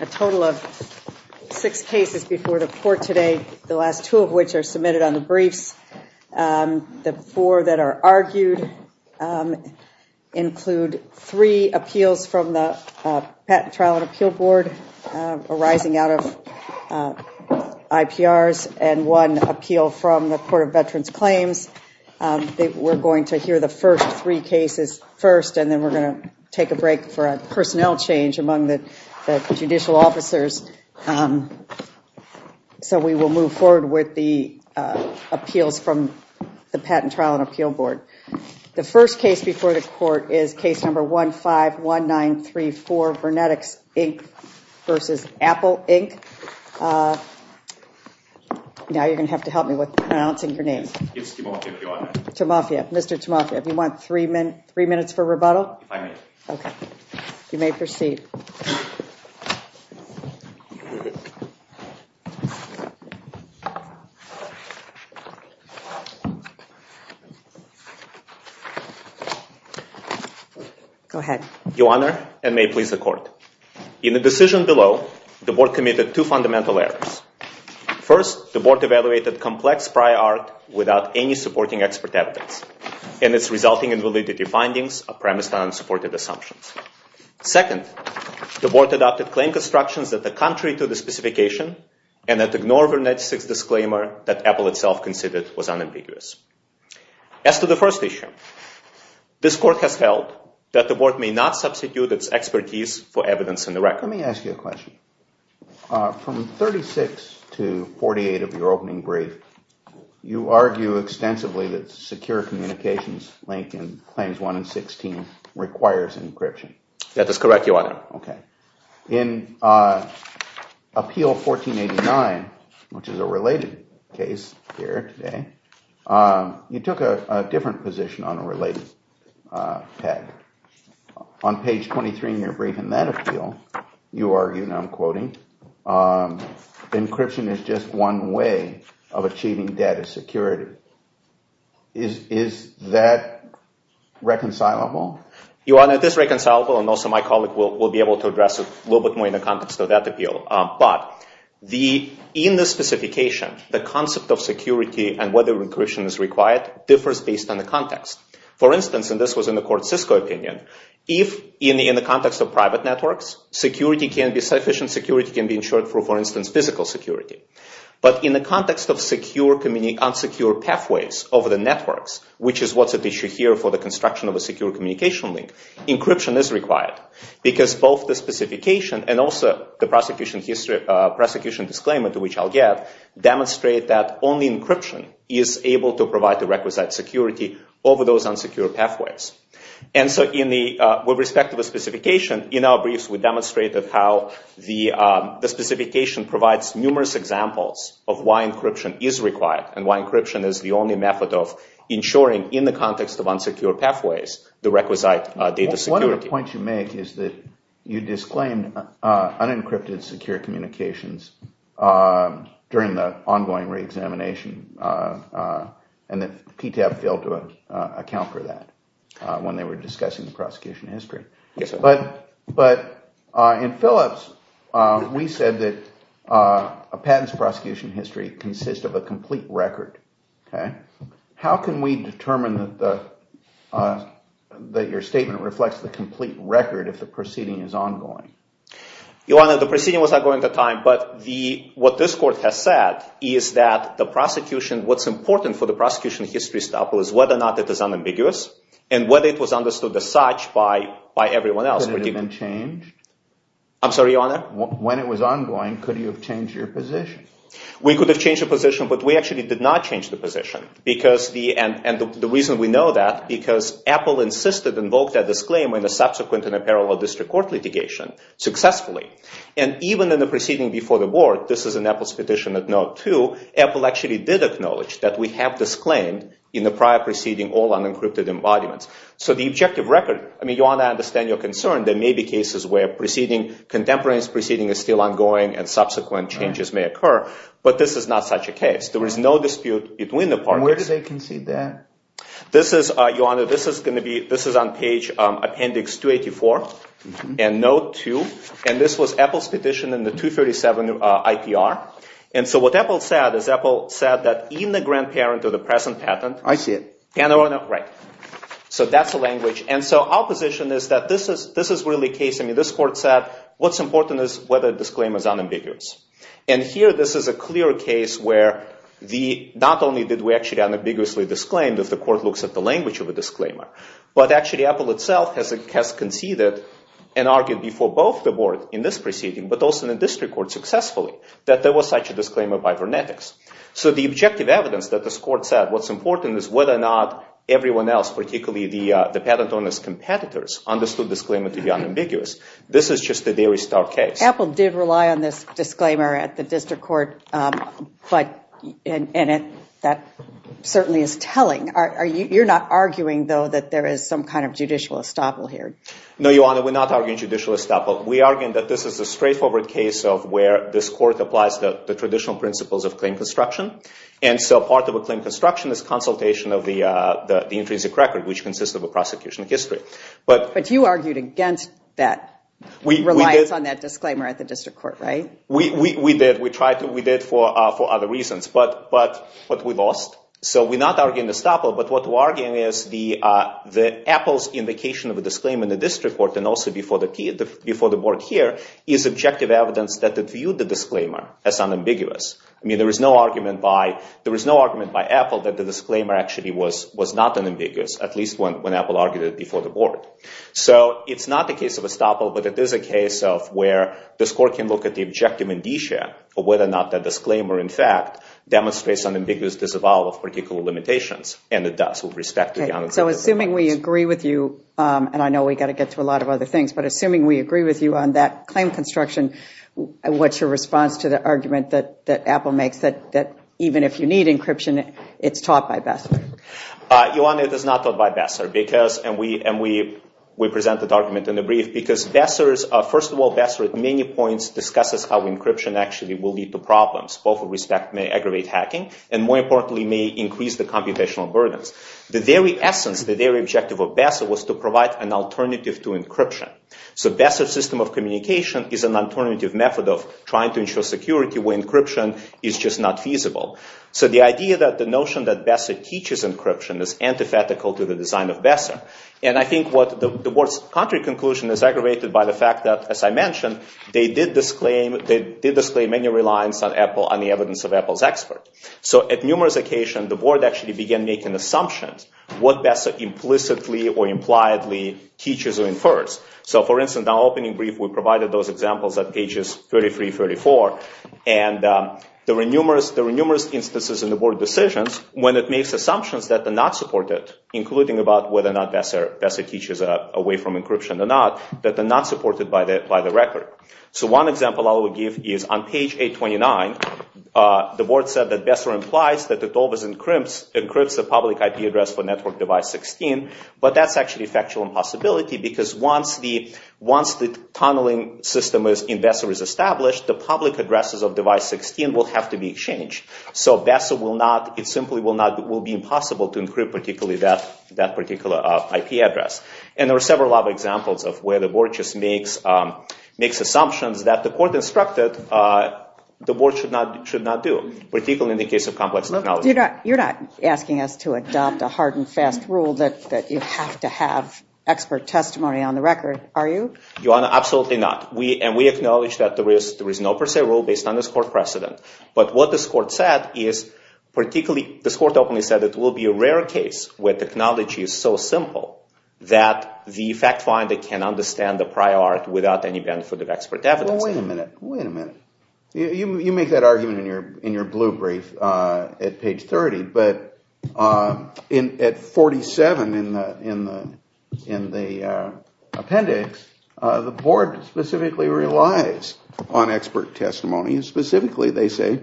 A total of six cases before the court today, the last two of which are submitted on the briefs. The four that are argued include three appeals from the Patent, Trial, and Appeal Board arising out of IPRs and one appeal from the Court of Veterans Claims. We're going to hear the first three cases first, and then we're going to take a break for a personnel change among the judicial officers. So we will move forward with the appeals from the Patent, Trial, and Appeal Board. The first case before the court is case number 151934, VernetX Inc. v. Apple Inc. Now you're going to have to help me with pronouncing your name. Mr. Tamafia, do you want three minutes for rebuttal? Okay, you may proceed. Go ahead. Your Honor, and may it please the Court, in the decision below, the Board committed two fundamental errors. First, the Board evaluated complex prior art without any supporting expert evidence, and it's resulting in validity findings premised on unsupported assumptions. Second, the Board adopted claim constructions that are contrary to the specification and that ignore VernetX's disclaimer that Apple itself considered was unambiguous. As to the first issue, this Court has held that the Board may not substitute its expertise for evidence in the record. Let me ask you a question. From 36 to 48 of your opening brief, you argue extensively that secure communications linked in Claims 1 and 16 requires encryption. That is correct, Your Honor. In Appeal 1489, which is a related case here today, you took a different position on a related peg. On page 23 in your brief in that appeal, you argue, and I'm quoting, encryption is just one way of achieving data security. Is that reconcilable? Your Honor, it is reconcilable, and also my colleague will be able to address it a little bit more in the context of that appeal. But, in this specification, the concept of security and whether encryption is required differs based on the context. For instance, and this was in the court's Cisco opinion, if in the context of private networks, sufficient security can be ensured through, for instance, physical security. But in the context of unsecure pathways over the networks, which is what's at issue here for the construction of a secure communication link, encryption is required because both the specification and also the prosecution disclaimer, to which I'll get, demonstrate that only encryption is able to provide the requisite security over those unsecure pathways. And so, with respect to the specification, in our briefs we demonstrated how the specification provides numerous examples of why encryption is required and why encryption is the only method of ensuring, in the context of unsecure pathways, the requisite data security. One of the points you make is that you disclaim unencrypted secure communications during the ongoing re-examination and that PTAB failed to account for that when they were discussing the prosecution history. But, in Phillips, we said that a patent's prosecution history consists of a complete record. How can we determine that your statement reflects the complete record if the proceeding is ongoing? Your Honor, the proceeding was ongoing at the time, but what this court has said is that the prosecution, what's important for the prosecution history, is whether or not it is unambiguous and whether it was understood as such by everyone else. Could it have been changed? I'm sorry, Your Honor? When it was ongoing, could you have changed your position? We could have changed the position, but we actually did not change the position because, and the reason we know that, because Apple insisted and invoked a disclaimer in a subsequent and a parallel district court litigation, successfully. And even in the proceeding before the board, this is an Apple's petition of note, too, Apple actually did acknowledge that we have disclaimed in the prior proceeding all unencrypted embodiments. So the objective record, I mean, Your Honor, I understand your concern. There may be cases where proceeding, contemporaneous proceeding, is still ongoing and subsequent changes may occur, but this is not such a case. There is no dispute between the parties. And where do they concede that? This is, Your Honor, this is going to be, this is on page appendix 284 and note 2, and this was Apple's petition in the 237 IPR. And so what Apple said is Apple said that even the grandparent of the present patent. I see it. Yeah, Your Honor, right. So that's the language. And so our position is that this is, this is really a case, I mean, this court said what's important is whether the disclaimer is unambiguous. And here, this is a clear case where the, not only did we actually unambiguously disclaimed if the court looks at the language of a disclaimer, but actually Apple itself has conceded and argued before both the board in this proceeding, but also in the district court successfully, that there was such a disclaimer by Vernetics. So the objective evidence that this court said what's important is whether or not everyone else, particularly the patent owners' competitors, understood the disclaimer to be unambiguous. This is just a Dairy Star case. Apple did rely on this disclaimer at the district court, but, and that certainly is telling. Are you, you're not arguing though that there is some kind of judicial estoppel here? No, Your Honor, we're not arguing judicial estoppel. We are arguing that this is a straightforward case of where this court applies to the traditional principles of claim construction. And so part of a claim construction is consultation of the, the, the intrinsic record, which consists of a prosecution of history. But, but you argued against that reliance on that disclaimer at the district court, right? We, we, we did. We tried to, we did for, for other reasons, but, but, but we lost. So we're not arguing estoppel, but what we're arguing is the, the Apple's indication of a disclaimer in the district court and also before the, before the board here is objective evidence that it viewed the disclaimer as unambiguous. I mean, there was no argument by, there was no argument by Apple that the disclaimer actually was, was not unambiguous, at least when, when Apple argued it before the board. So it's not the case of estoppel, but it is a case of where the court can look at the objective indicia for whether or not that disclaimer, in fact, demonstrates unambiguous disavowal of particular limitations. And it does with respect to the unambiguous disavowal. So assuming we agree with you and I know we've got to get to a lot of other things, but assuming we agree with you on that claim construction, what's your response to the argument that, that Apple makes that, that even if you need encryption, it's taught by best? Uh, you want it is not taught by Besser because, and we, and we, we present the document in the brief because Besser's, uh, first of all, Besser at many points discusses how encryption actually will lead to problems both with respect may aggravate hacking and more importantly may increase the computational burdens. The very essence, the very objective of Besser was to provide an alternative to encryption. So Besser system of communication is an alternative method of trying to ensure security when encryption is just not feasible. So the idea that the notion that Besser teaches encryption is antithetical to the design of Besser. And I think what the worst country conclusion is aggravated by the fact that as I mentioned, they did this claim, they did display many reliance on Apple on the evidence of Apple's expert. So at numerous occasion, the board actually began making assumptions what Besser implicitly or impliedly teaches or infers. So for instance, the opening brief we provided those examples at pages 33, 33, 34. And, um, there were numerous, there were numerous instances in the board decisions when it makes assumptions that they're not supported, including about whether or not Besser, Besser teaches away from encryption or not, that they're not supported by the, by the record. So one example I will give is on page 829, uh, the board said that Besser implies that it always encrypts, encrypts the public IP address for network device 16, but that's actually factual impossibility because once the, once the tunneling system is in Besser is established, the public addresses of device 16 will have to be exchanged. So Besser will not, it simply will not, will be impossible to encrypt particularly that, that particular IP address. And there were several other examples of where the board just makes, um, makes assumptions that the court instructed, uh, the board should not, should not do, particularly in the case of complex. You're not asking us to adopt a hard and fast rule that you have to have expert testimony on the record, are you? You are absolutely not. We, and we acknowledge that the risk, there is no per se rule based on this court precedent. But what this court said is particularly, this court openly said it will be a rare case where technology is so simple that the fact finder can understand the prior art without any benefit of expert evidence. Wait a minute. Wait a minute. You, you, you make that argument in your, in your blue brief, uh, at page 30, but, uh, in, at 47 in the, in the, in the, uh, appendix, uh, the board specifically relies on expert testimony. And specifically they say,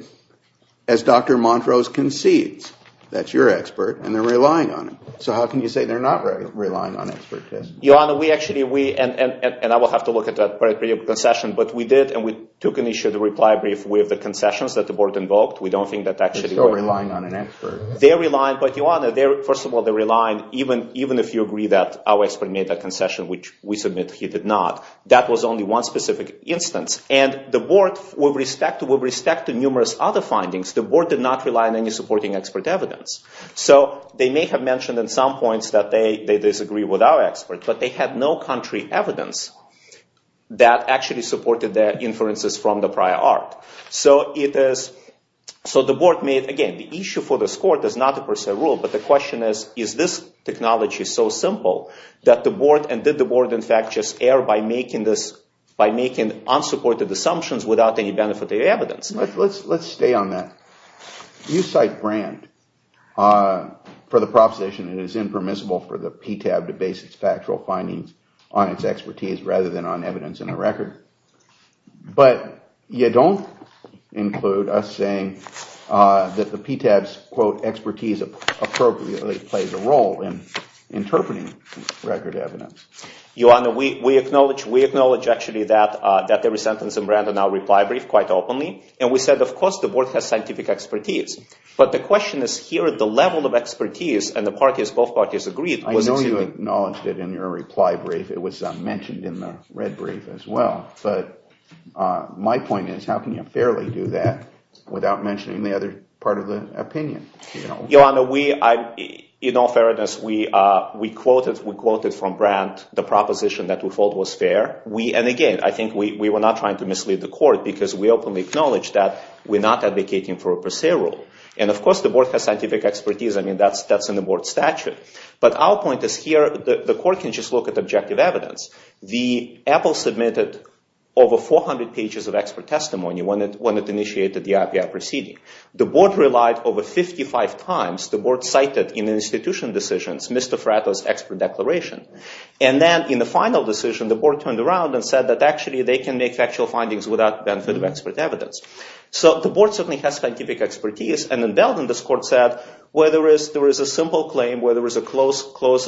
as Dr. Montrose concedes, that's your expert and they're relying on it. So how can you say they're not relying on expert testimony? Your Honor, we actually, we, and, and, and, and I will have to look at that prior concession, but we did and we took an issue of the reply brief with the concessions that the board invoked. We don't think that actually... They're still relying on an expert. They're relying, but Your Honor, they're, first of all, they're relying, even, even if you agree that our expert made that concession, which we submit he did not, that was only one specific instance. And the board with respect to, with respect to numerous other findings, the board did not rely on any supporting expert evidence. So they may have mentioned in some points that they, they disagree with our experts, but they had no country evidence that actually supported their inferences from the prior art. So it is, so the board made, again, the issue for this court is not the personal rule, but the question is, is this technology so simple that the board, and did the board, in fact, just err by making this, by making unsupported assumptions without any benefit of evidence? Let's, let's, let's stay on that. You cite Brand for the proposition that it is impermissible for the PTAB to base its factual findings on its expertise rather than on evidence in the record. But you don't include us saying that the PTAB's, quote, expertise appropriately plays a role in interpreting record evidence. Your Honor, we, we acknowledge, we acknowledge actually that that there was a sentence in Brand and our reply brief quite openly. And we said, of course, the board has scientific expertise, but the question is here at the level of expertise and the parties, both parties agreed. I know you acknowledged it in your reply brief. It was mentioned in the red brief as well. But my point is, how can you fairly do that without mentioning the other part of the opinion? Your Honor, we, in all fairness, we, we quoted, we quoted from Brand the proposition that we thought was fair. We, and again, I think we were not trying to mislead the court because we openly acknowledge that we're not advocating for a per se rule. And of course the board has scientific expertise. I mean, that's, that's in the board statute. But our point is here, the court can just look at objective evidence. The Apple submitted over 400 pages of expert testimony when it, when it initiated the IPR proceeding, the board relied over 55 times, the board cited in the institution decisions, Mr. Fratto's expert declaration. And then in the final decision, the board turned around and said that actually they can make factual findings without benefit of expert evidence. So the board certainly has scientific expertise and in Belden, this court said where there is, there is a simple claim where there was a close, close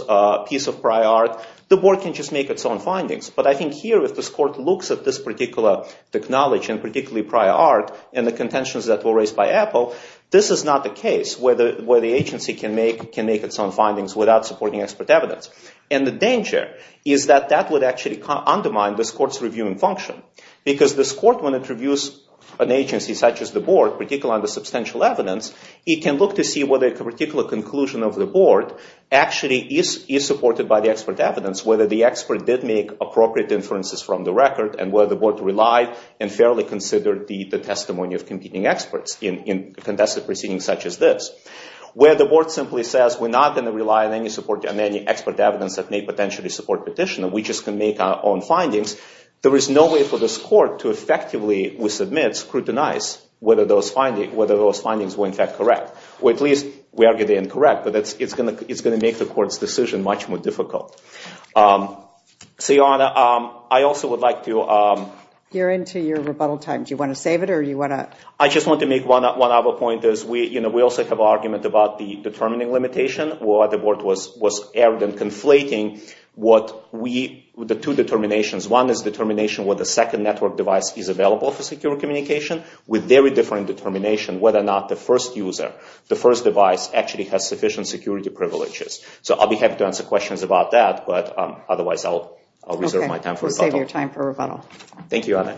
piece of prior art, the board can just make its own findings. But I think here with this court looks at this particular technology and particularly prior art and the contentions that were raised by Apple, this is not the case where the, where the agency can make, can make its own findings without supporting expert evidence. And the danger is that that would actually undermine this court's review and function because this court, when it reviews an agency such as the board, particularly on the substantial evidence, it can look to see whether a particular conclusion of the board actually is, is supported by the expert evidence, whether the expert did make appropriate inferences from the record and whether the board relied and fairly considered the testimony of competing experts in, in contested proceedings such as this, where the board simply says, we're not going to rely on any support and any expert evidence that may potentially support petitioner. We just can make our own findings. There is no way for this court to effectively, we submit scrutinize, whether those findings, whether those findings were in fact correct, or at least we argue they're incorrect, but that's, it's going to, it's going to make the court's decision much more difficult. So, Yana, I also would like to... You're into your rebuttal time. Do you want to save it or do you want to... I just want to make one, one other point is we, you know, we also have an argument about the determining limitation, what the board was, was evident conflating what we, the two determinations. One is determination where the second network device is available for secure communication with very different determination, whether or not the first user, the first device actually has sufficient security privileges. So I'll be happy to answer questions about that, but otherwise I'll, I'll reserve my time for rebuttal. We'll save your time for rebuttal. Thank you, Yana.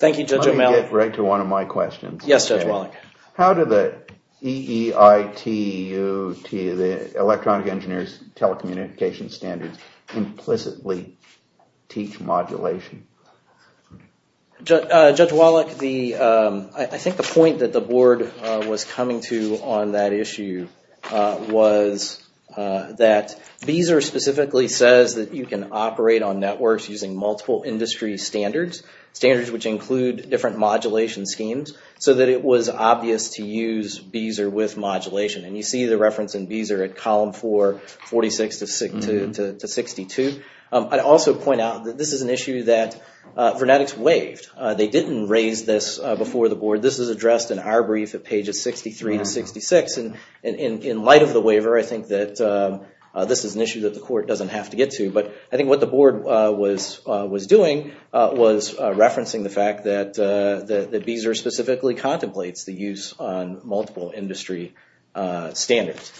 Thank you, Judge O'Malley. I'm going to get right to one of my questions. Yes, Judge Wallach. How did the EEITUT, the Electronic Engineers Telecommunication Standards, implicitly teach modulation? Judge Wallach, the, I think the point that the board was coming to on that issue was that Beezer specifically says that you can operate on networks using multiple industry standards, standards which include different modulation schemes, so that it was obvious to use Beezer with modulation. And you see the reference in Beezer at column four, 46 to 62. I'd also point out that this is an issue that Vernetics waived. They didn't raise this before the board. This is addressed in our brief at pages 63 to 66. And in light of the waiver, I think that this is an issue that the court doesn't have to get to. But I think what the board was doing was referencing the fact that Beezer specifically contemplates the use on multiple industry standards.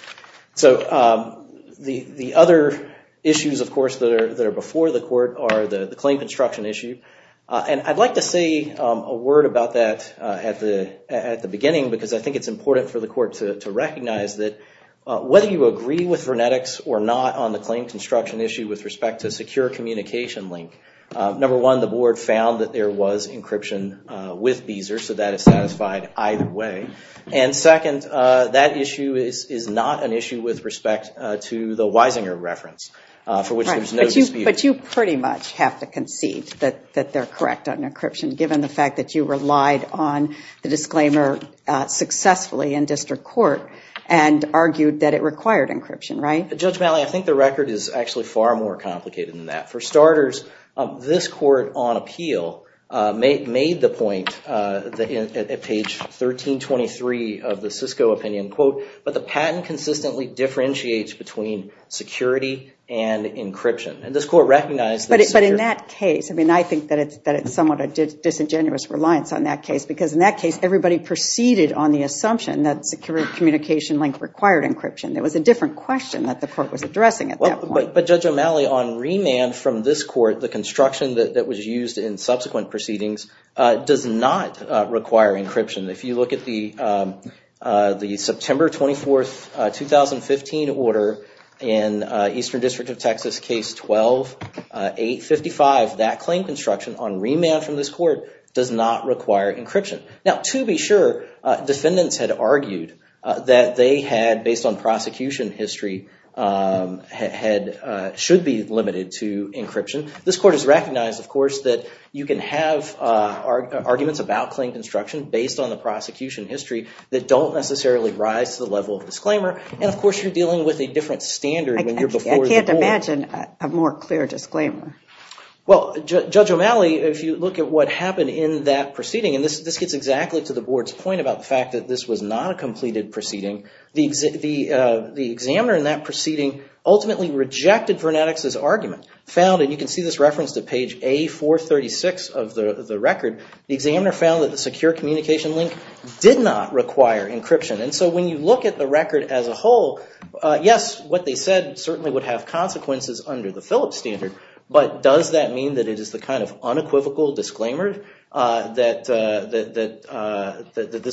So the other issues, of course, that are before the court are the claim construction issue. And I'd like to say a word about that at the beginning, because I think it's important for the court to recognize that whether you agree with Vernetics or not on the claim construction issue with respect to secure communication link, number one, the board found that there was encryption with Beezer. So that is satisfied either way. And second, that issue is not an issue with respect to the Weisinger reference for which there's no dispute. But you pretty much have to concede that they're correct on encryption, given the fact that you relied on the disclaimer successfully in district court and argued that it required encryption, right? Judge Malley, I think the record is actually far more complicated than that. For starters, this court on appeal made the point at page 1323 of the Cisco opinion, quote, but the patent consistently differentiates between security and encryption. And this court recognized that. But in that case, I mean, I think that it's somewhat a disingenuous reliance on that case because in that case, the communication link required encryption. There was a different question that the court was addressing at that point. But Judge O'Malley, on remand from this court, the construction that was used in subsequent proceedings does not require encryption. If you look at the September 24th, 2015 order in Eastern District of Texas case 12-855, that claim construction on remand from this court does not require encryption. Now to be sure, defendants had argued that they had, based on prosecution history, should be limited to encryption. This court has recognized, of course, that you can have arguments about claim construction based on the prosecution history that don't necessarily rise to the level of disclaimer. And of course, you're dealing with a different standard. I can't imagine a more clear disclaimer. Well, Judge O'Malley, if you look at what happened in that proceeding, and this gets exactly to the board's point about the fact that this was not a completed proceeding, the examiner in that proceeding ultimately rejected Vernadix's argument, found, and you can see this reference to page A436 of the record, the examiner found that the secure communication link did not require encryption. And so when you look at the record as a whole, yes, what they said certainly would have consequences under the Phillips standard. But does that mean that it is the kind of unequivocal disclaimer that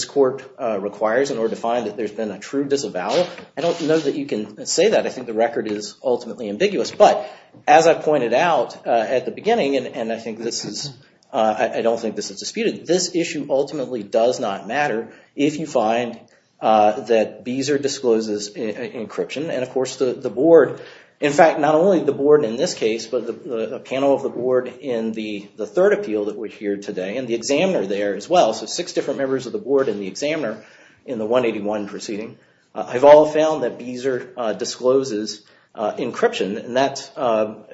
this court requires in order to find that there's been a true disavowal? I don't know that you can say that. I think the record is ultimately ambiguous. But as I pointed out at the beginning, and I don't think this is disputed, this issue ultimately does not matter if you find that Beezer discloses encryption. And of course, the board, in fact, not only the board in this case, but the panel of the board in the third appeal that we're here today, and the examiner there as well, so six different members of the board and the examiner in the 181 proceeding, have all found that Beezer discloses encryption. And that's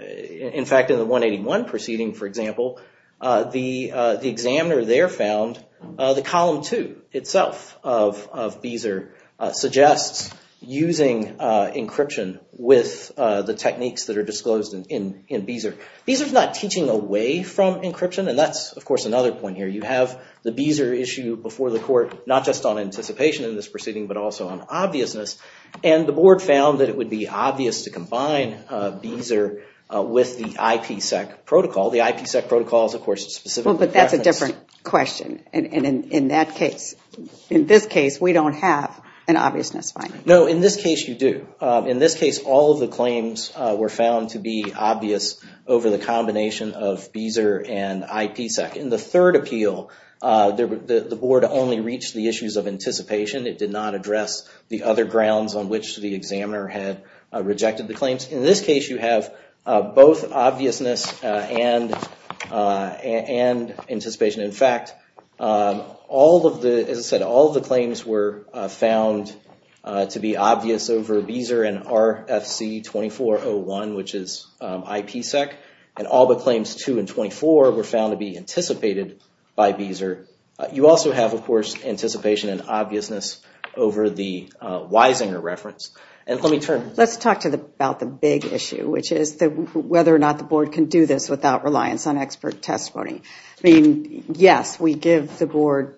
in fact, in the 181 proceeding, for example, the examiner there found the column two itself of Beezer suggests using encryption with the techniques that are disclosed in Beezer. Beezer's not teaching away from encryption. And that's, of course, another point here. You have the Beezer issue before the court, not just on anticipation in this proceeding, but also on obviousness. And the board found that it would be obvious to combine Beezer with the IPSEC protocol. The IPSEC protocol is, of course, specific. But that's a different question. And in that case, in this case, we don't have an obviousness finding. No, in this case, you do. In this case, all of the claims were found to be obvious over the combination of Beezer and IPSEC. In the third appeal, the board only reached the issues of anticipation. It did not address the other grounds on which the examiner had rejected the claims. In this case, you have both obviousness and anticipation. In fact, all of the, as I said, all of the claims were found to be obvious over Beezer and RFC 2401, which is IPSEC. And all the claims 2 and 24 were found to be anticipated by Beezer. You also have, of course, anticipation and obviousness over the Weisinger reference. And let me turn... Let's talk about the big issue, which is whether or not the board can do this without reliance on expert testimony. I mean, yes, we give the board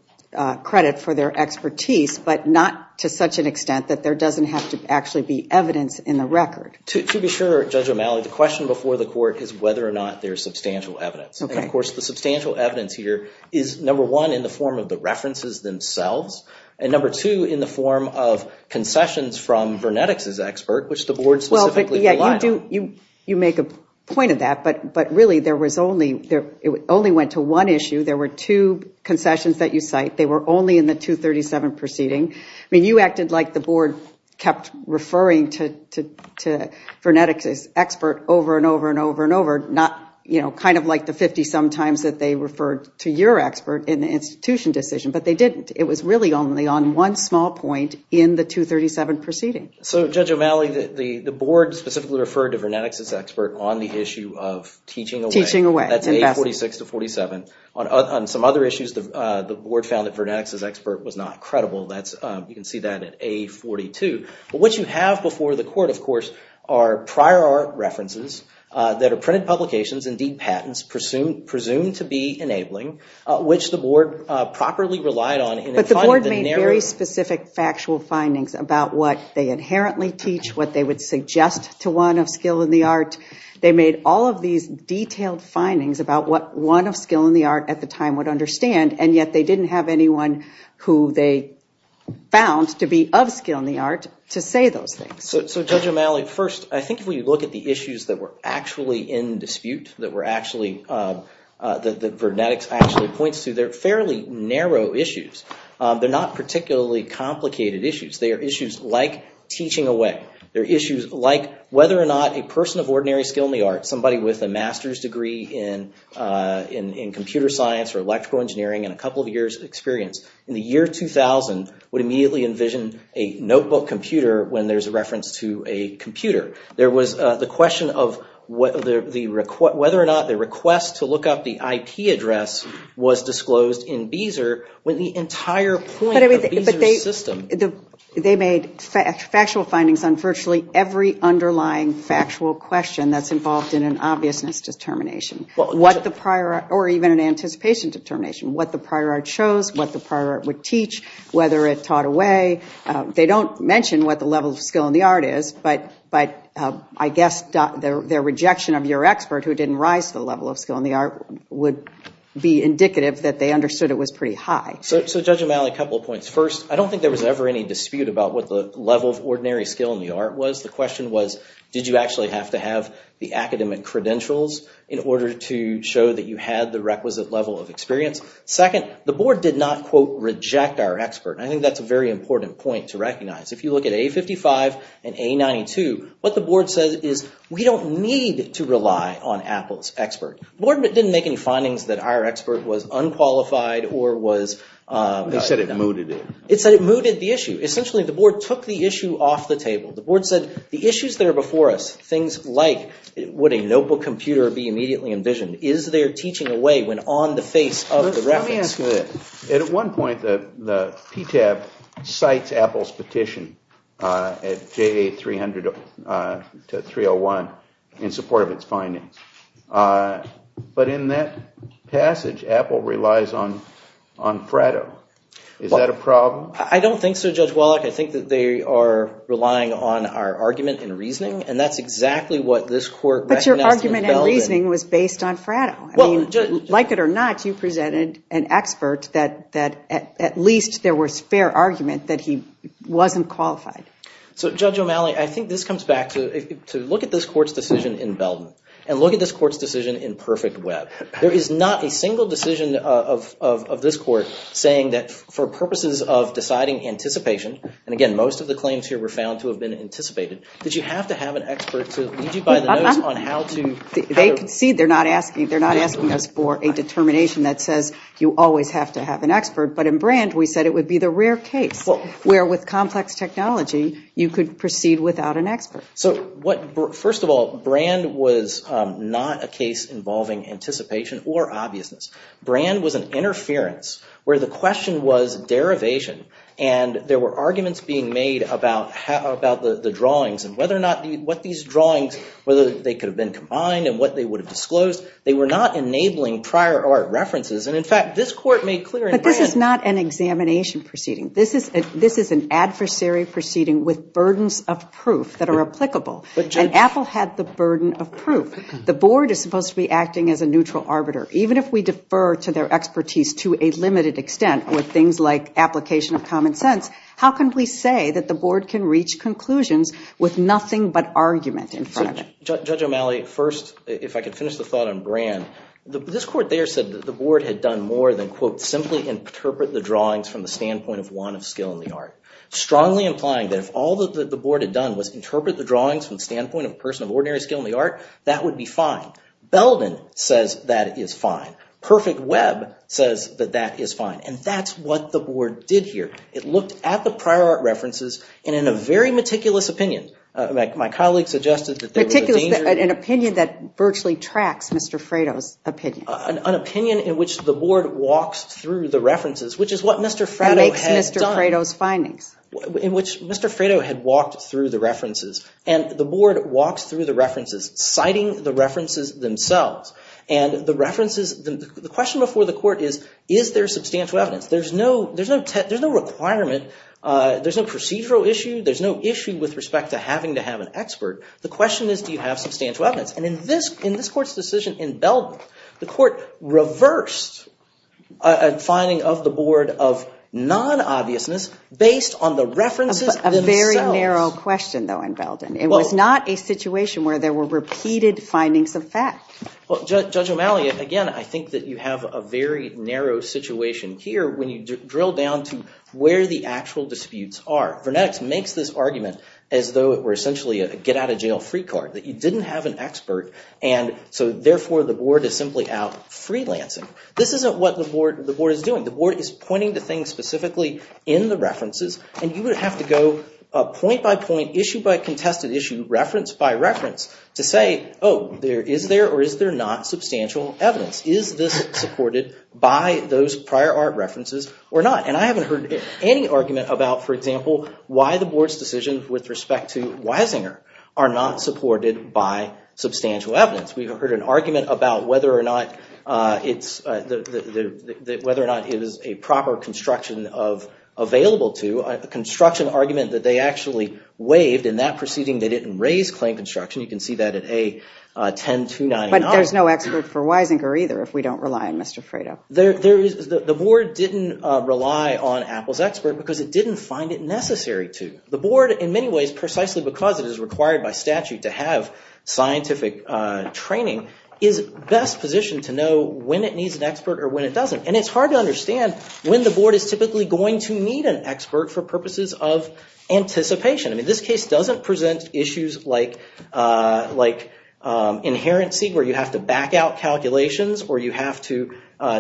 credit for their expertise, but not to such an extent that there doesn't have to actually be evidence in the record. To be sure, Judge O'Malley, the question before the court is whether or not there's substantial evidence. And of course, the substantial evidence here is, number one, in the form of the references themselves, and number two, in the form of concessions from Vernetics' expert, which the board specifically relied on. You make a point of that, but really, there was only... It only went to one issue. There were two concessions that you cite. They were only in the 237 proceeding. I mean, you acted like the board kept referring to Vernetics' expert over and over and over and over. Not, you know, kind of like the 50-some times that they referred to your expert in the institution decision, but they didn't. It was really only on one small point in the 237 proceeding. So, Judge O'Malley, the board specifically referred to Vernetics' expert on the issue of teaching away. Teaching away. That's A46 to 47. On some other issues, the board found that Vernetics' expert was not credible. You can see that at A42. But what you have before the court, of course, are prior art references that are printed publications, indeed, patents, presumed to be enabling, which the board properly relied on. But the board made very specific factual findings about what they inherently teach, what they would suggest to one of skill in the art. They made all of these detailed findings about what one of skill in the art at the time would understand, and yet they didn't have anyone who they found to be of skill in the art to say those things. So, Judge O'Malley, first, I think if we look at the issues that were actually in dispute, that Vernetics actually points to, they're fairly narrow issues. They're not particularly complicated issues. They are issues like teaching away. They're issues like whether or not a person of ordinary skill in the art, somebody with a master's degree in computer science or electrical engineering, and a couple of years experience in the year 2000 would immediately envision a notebook computer when there's a reference to a computer. There was the question of whether or not the request to look up the IP address was disclosed in Beezer when the entire point of Beezer's system. They made factual findings on virtually every underlying factual question that's involved in an obviousness determination, or even an anticipation determination, what the prior art shows, what the prior art would teach, whether it taught away. They don't mention what the level of skill in the art is, but I guess their rejection of your expert who didn't rise to the level of skill in the art would be indicative that they understood it was pretty high. So, Judge O'Malley, a couple of points. First, I don't think there was ever any dispute about what the level of ordinary skill in the art was. The question was, did you actually have to have the academic credentials in order to show that you had the requisite level of experience? Second, the board did not, quote, reject our expert. I think that's a very important point to recognize. If you look at A55 and A92, what the board says is, we don't need to rely on Apple's expert. The board didn't make any findings that our expert was unqualified or was... They said it mooted it. It said it mooted the issue. Essentially, the board took the issue off the table. The board said, the issues that are before us, things like, would a notebook computer be immediately envisioned? Is there teaching away when on the face of the reference? Let me ask you this. At one point, the PTAB cites Apple's petition at J300-301 in support of its findings. But in that passage, Apple relies on Fratto. Is that a problem? I don't think so, Judge Wallach. I think that they are relying on our argument and reasoning, and that's exactly what this court recognized in Belden. But your argument and reasoning was based on Fratto. I mean, like it or not, you presented an expert that at least there was fair argument that he wasn't qualified. So, Judge O'Malley, I think this comes back to look at this court's decision in Belden and look at this court's decision in Perfect Web. There is not a single decision of this court saying that for purposes of deciding anticipation, and again, most of the claims here were found to have been anticipated. Did you have to have an expert to lead you by the nose on how to? They concede. They're not asking. They're not asking us for a determination that says you always have to have an expert. But in Brand, we said it would be the rare case where with complex technology, you could proceed without an expert. So what? First of all, Brand was not a case involving anticipation or obviousness. Brand was an interference where the question was derivation. And there were arguments being made about how about the drawings and whether or not what these drawings, whether they could have been combined and what they would have disclosed. They were not enabling prior art references. And in fact, this court made clear. But this is not an examination proceeding. This is an adversary proceeding with burdens of proof that are applicable. And Apple had the burden of proof. The board is supposed to be acting as a neutral arbiter, even if we defer to their expertise to a limited extent with things like application of common sense. How can we say that the board can reach conclusions with nothing but argument in front of it? Judge O'Malley, first, if I could finish the thought on Brand, this court there said that the board had done more than, quote, simply interpret the drawings from the standpoint of one of skill in the art. Strongly implying that if all that the board had done was interpret the drawings from the standpoint of a person of ordinary skill in the art, that would be fine. Belden says that is fine. Perfect Web says that that is fine. And that's what the board did here. It looked at the prior art references and in a very meticulous opinion, my colleague suggested that there was a danger. An opinion that virtually tracks Mr. Fredo's opinion. An opinion in which the board walks through the references, which is what Mr. Fredo had done. It makes Mr. Fredo's findings. In which Mr. Fredo had walked through the references and the board walks through the references, citing the references themselves. And the references, the question before the court is, is there substantial evidence? There's no requirement. There's no procedural issue. There's no issue with respect to having to have an expert. The question is, do you have substantial evidence? And in this court's decision in Belden, the court reversed a finding of the board of non-obviousness based on the references themselves. A very narrow question, though, in Belden. It was not a situation where there were repeated findings of fact. Well, Judge O'Malley, again, I think that you have a very narrow situation here when you drill down to where the actual disputes are. Vernetics makes this argument as though it were essentially a get out of jail free card, that you didn't have an expert. And so, therefore, the board is simply out freelancing. This isn't what the board is doing. The board is pointing to things specifically in the references. And you would have to go point by point, issue by contested issue, reference by reference to say, oh, there is there or is there not substantial evidence? Is this supported by those prior art references or not? And I haven't heard any argument about, for example, why the board's decision with respect to Weisinger are not supported by substantial evidence. We've heard an argument about whether or not it's, whether or not it is a proper construction of available to a construction argument that they actually waived in that proceeding. They didn't raise claim construction. You can see that at A-10-299. But there's no expert for Weisinger either, if we don't rely on Mr. Fredo. The board didn't rely on Apple's expert because it didn't find it necessary to. The board, in many ways, precisely because it is required by statute to have scientific training, is best positioned to know when it needs an expert or when it doesn't. And it's hard to understand when the board is typically going to need an expert for purposes of anticipation. I mean, this case doesn't present issues like, like, you have to back out calculations or you have to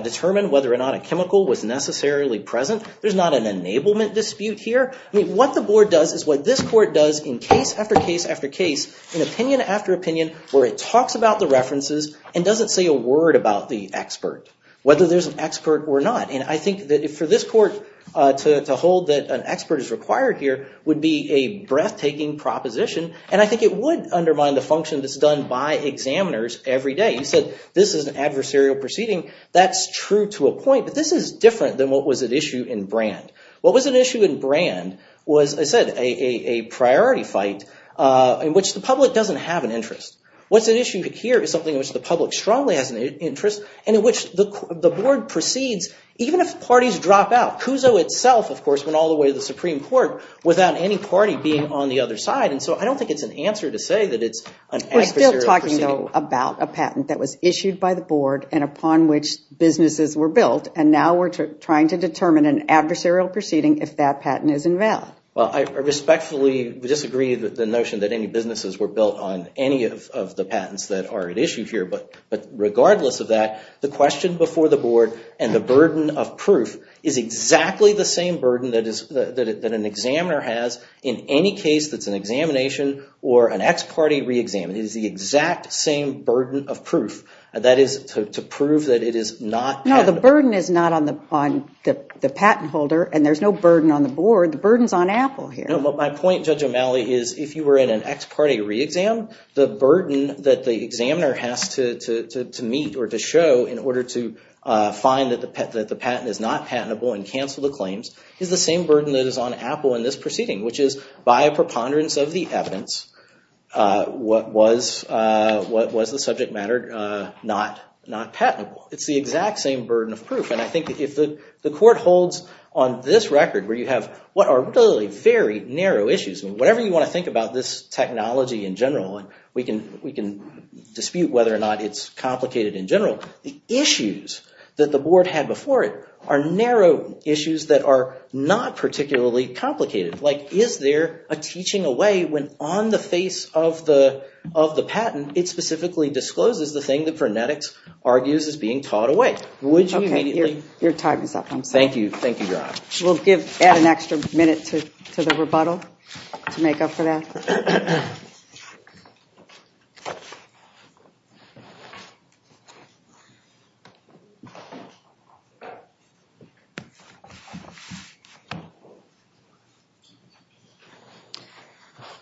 determine whether or not a chemical was necessarily present. There's not an enablement dispute here. I mean, what the board does is what this court does in case after case after case, in opinion after opinion, where it talks about the references and doesn't say a word about the expert, whether there's an expert or not. And I think that for this court to hold that an expert is required here would be a breathtaking proposition. And I think it would undermine the function that's done by examiners every day. You said this is an adversarial proceeding. That's true to a point. But this is different than what was at issue in Brand. What was at issue in Brand was, I said, a priority fight in which the public doesn't have an interest. What's at issue here is something in which the public strongly has an interest and in which the board proceeds even if parties drop out. Cuso itself, of course, went all the way to the Supreme Court without any party being on the other side. And so I don't think it's an answer to say that it's an adversarial proceeding. We're still talking, though, about a patent that was issued by the board and upon which businesses were built. And now we're trying to determine an adversarial proceeding if that patent is invalid. Well, I respectfully disagree with the notion that any businesses were built on any of the patents that are at issue here. But regardless of that, the question before the board and the burden of proof is exactly the same burden that an examiner has in any case that's an examination or an ex parte re-exam. It is the exact same burden of proof, that is, to prove that it is not patentable. No, the burden is not on the patent holder and there's no burden on the board. The burden's on Apple here. No, but my point, Judge O'Malley, is if you were in an ex parte re-exam, the burden that the examiner has to meet or to show in order to find that the patent is not patentable and cancel the claims is the same burden that is on Apple in this proceeding, which is by a preponderance of the evidence, was the subject matter not patentable? It's the exact same burden of proof. And I think if the court holds on this record where you have what are really very narrow issues, I mean, whatever you want to think about this technology in general, we can dispute whether or not it's complicated in general. The issues that the board had before it are narrow issues that are not particularly complicated. Is there a teaching away when, on the face of the patent, it specifically discloses the thing that frenetics argues is being taught away? Would you immediately? Your time is up. I'm sorry. Thank you, Your Honor. We'll add an extra minute to the rebuttal to make up for that.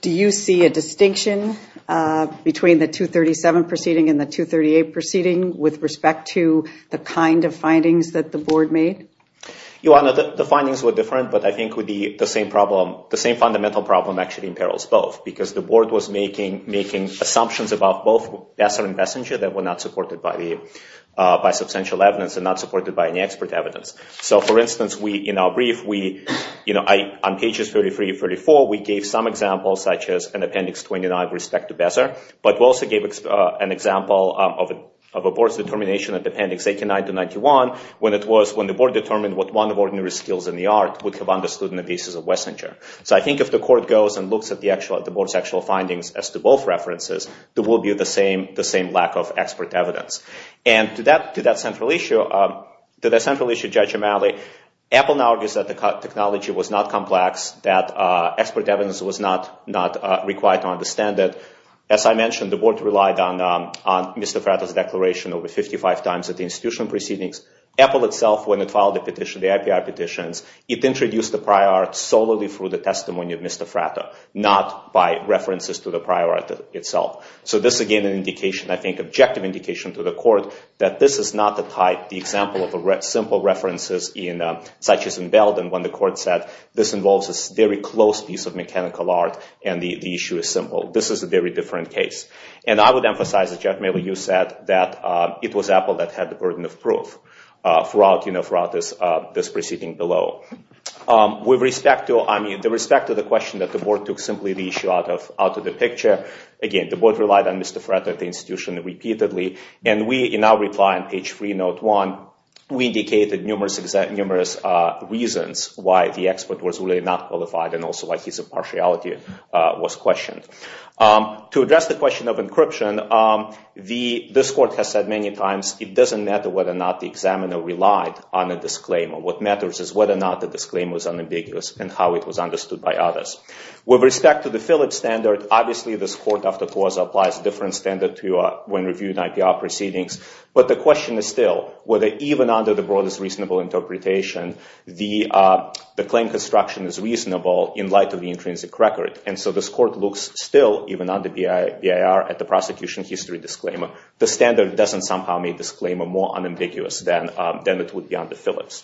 Do you see a distinction between the 237 proceeding and the 238 proceeding with respect to the kind of findings that the board made? Your Honor, the findings were different, but I think the same fundamental problem actually imperils both because the board was making assumptions about both Besser and Bessinger that were not supported by substantial evidence and not supported by any expert evidence. So, for instance, in our brief, on pages 33 and 34, we gave some examples such as an appendix 29 with respect to Besser, but we also gave an example of a board's determination of appendix 89 to 91 when the board determined what one of ordinary skills in the art would have understood in the cases of Wessinger. So I think if the court goes and looks at the board's actual findings as to both references, there will be the same lack of expert evidence. And to that central issue, Judge O'Malley, Apple now argues that the technology was not complex, that expert evidence was not required to understand it. As I mentioned, the board relied on Mr. Fratto's declaration over 55 times at the institutional proceedings. Apple itself, when it filed the petition, the IPR petitions, it introduced the prior art solely through the testimony of Mr. Fratto, not by references to the prior art itself. So this, again, is an indication, I think, an objective indication to the court that this is not the type, the example of simple references such as in Belden when the court said, this involves a very close piece of mechanical art and the issue is simple. This is a very different case. And I would emphasize that, Judge O'Malley, you said that it was Apple that had the burden of proof throughout this proceeding below. With respect to, I mean, with respect to the question that the board took simply the issue out of the picture, again, the board relied on Mr. Fratto at the institution repeatedly. And we, in our reply on page 3, note 1, we indicated numerous reasons why the expert was really not qualified and also why his impartiality was questioned. To address the question of encryption, this court has said many times it doesn't matter whether or not the examiner relied on a disclaimer. What matters is whether or not the disclaimer is unambiguous and how it was understood by others. With respect to the Phillips standard, obviously this court, after clause, applies a different standard to when reviewing IPR proceedings. But the question is still whether, even under the broadest reasonable interpretation, the claim construction is reasonable in light of the intrinsic record. And so this court looks still, even under BIR, at the prosecution history disclaimer. The standard doesn't somehow make this disclaimer more unambiguous than it would be under Phillips.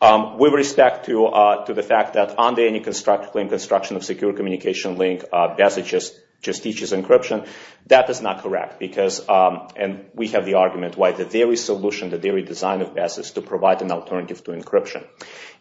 With respect to the fact that under any claim construction of secure communication link, BASA just teaches encryption, that is not correct. And we have the argument why the theory solution, the theory design of BASA is to provide an alternative to encryption.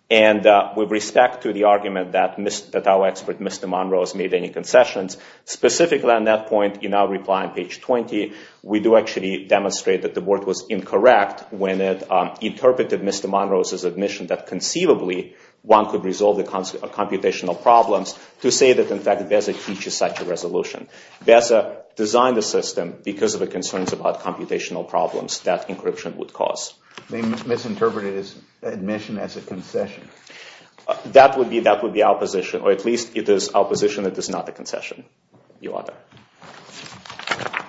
And with respect to the argument that our expert, Mr. Monroe, has made any concessions, specifically on that point in our reply on page 20, we do actually demonstrate that the work was incorrect when it interpreted Mr. Monroe's admission that conceivably one could resolve the computational problems to say that, in fact, BASA teaches such a resolution. BASA designed the system because of the concerns about computational problems that encryption would cause. They misinterpreted his admission as a concession. That would be opposition, or at least it is opposition that is not a concession. You are there.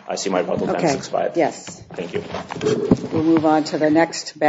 I see my bundle 1065. Yes. Thank you. We'll move on to the next battle.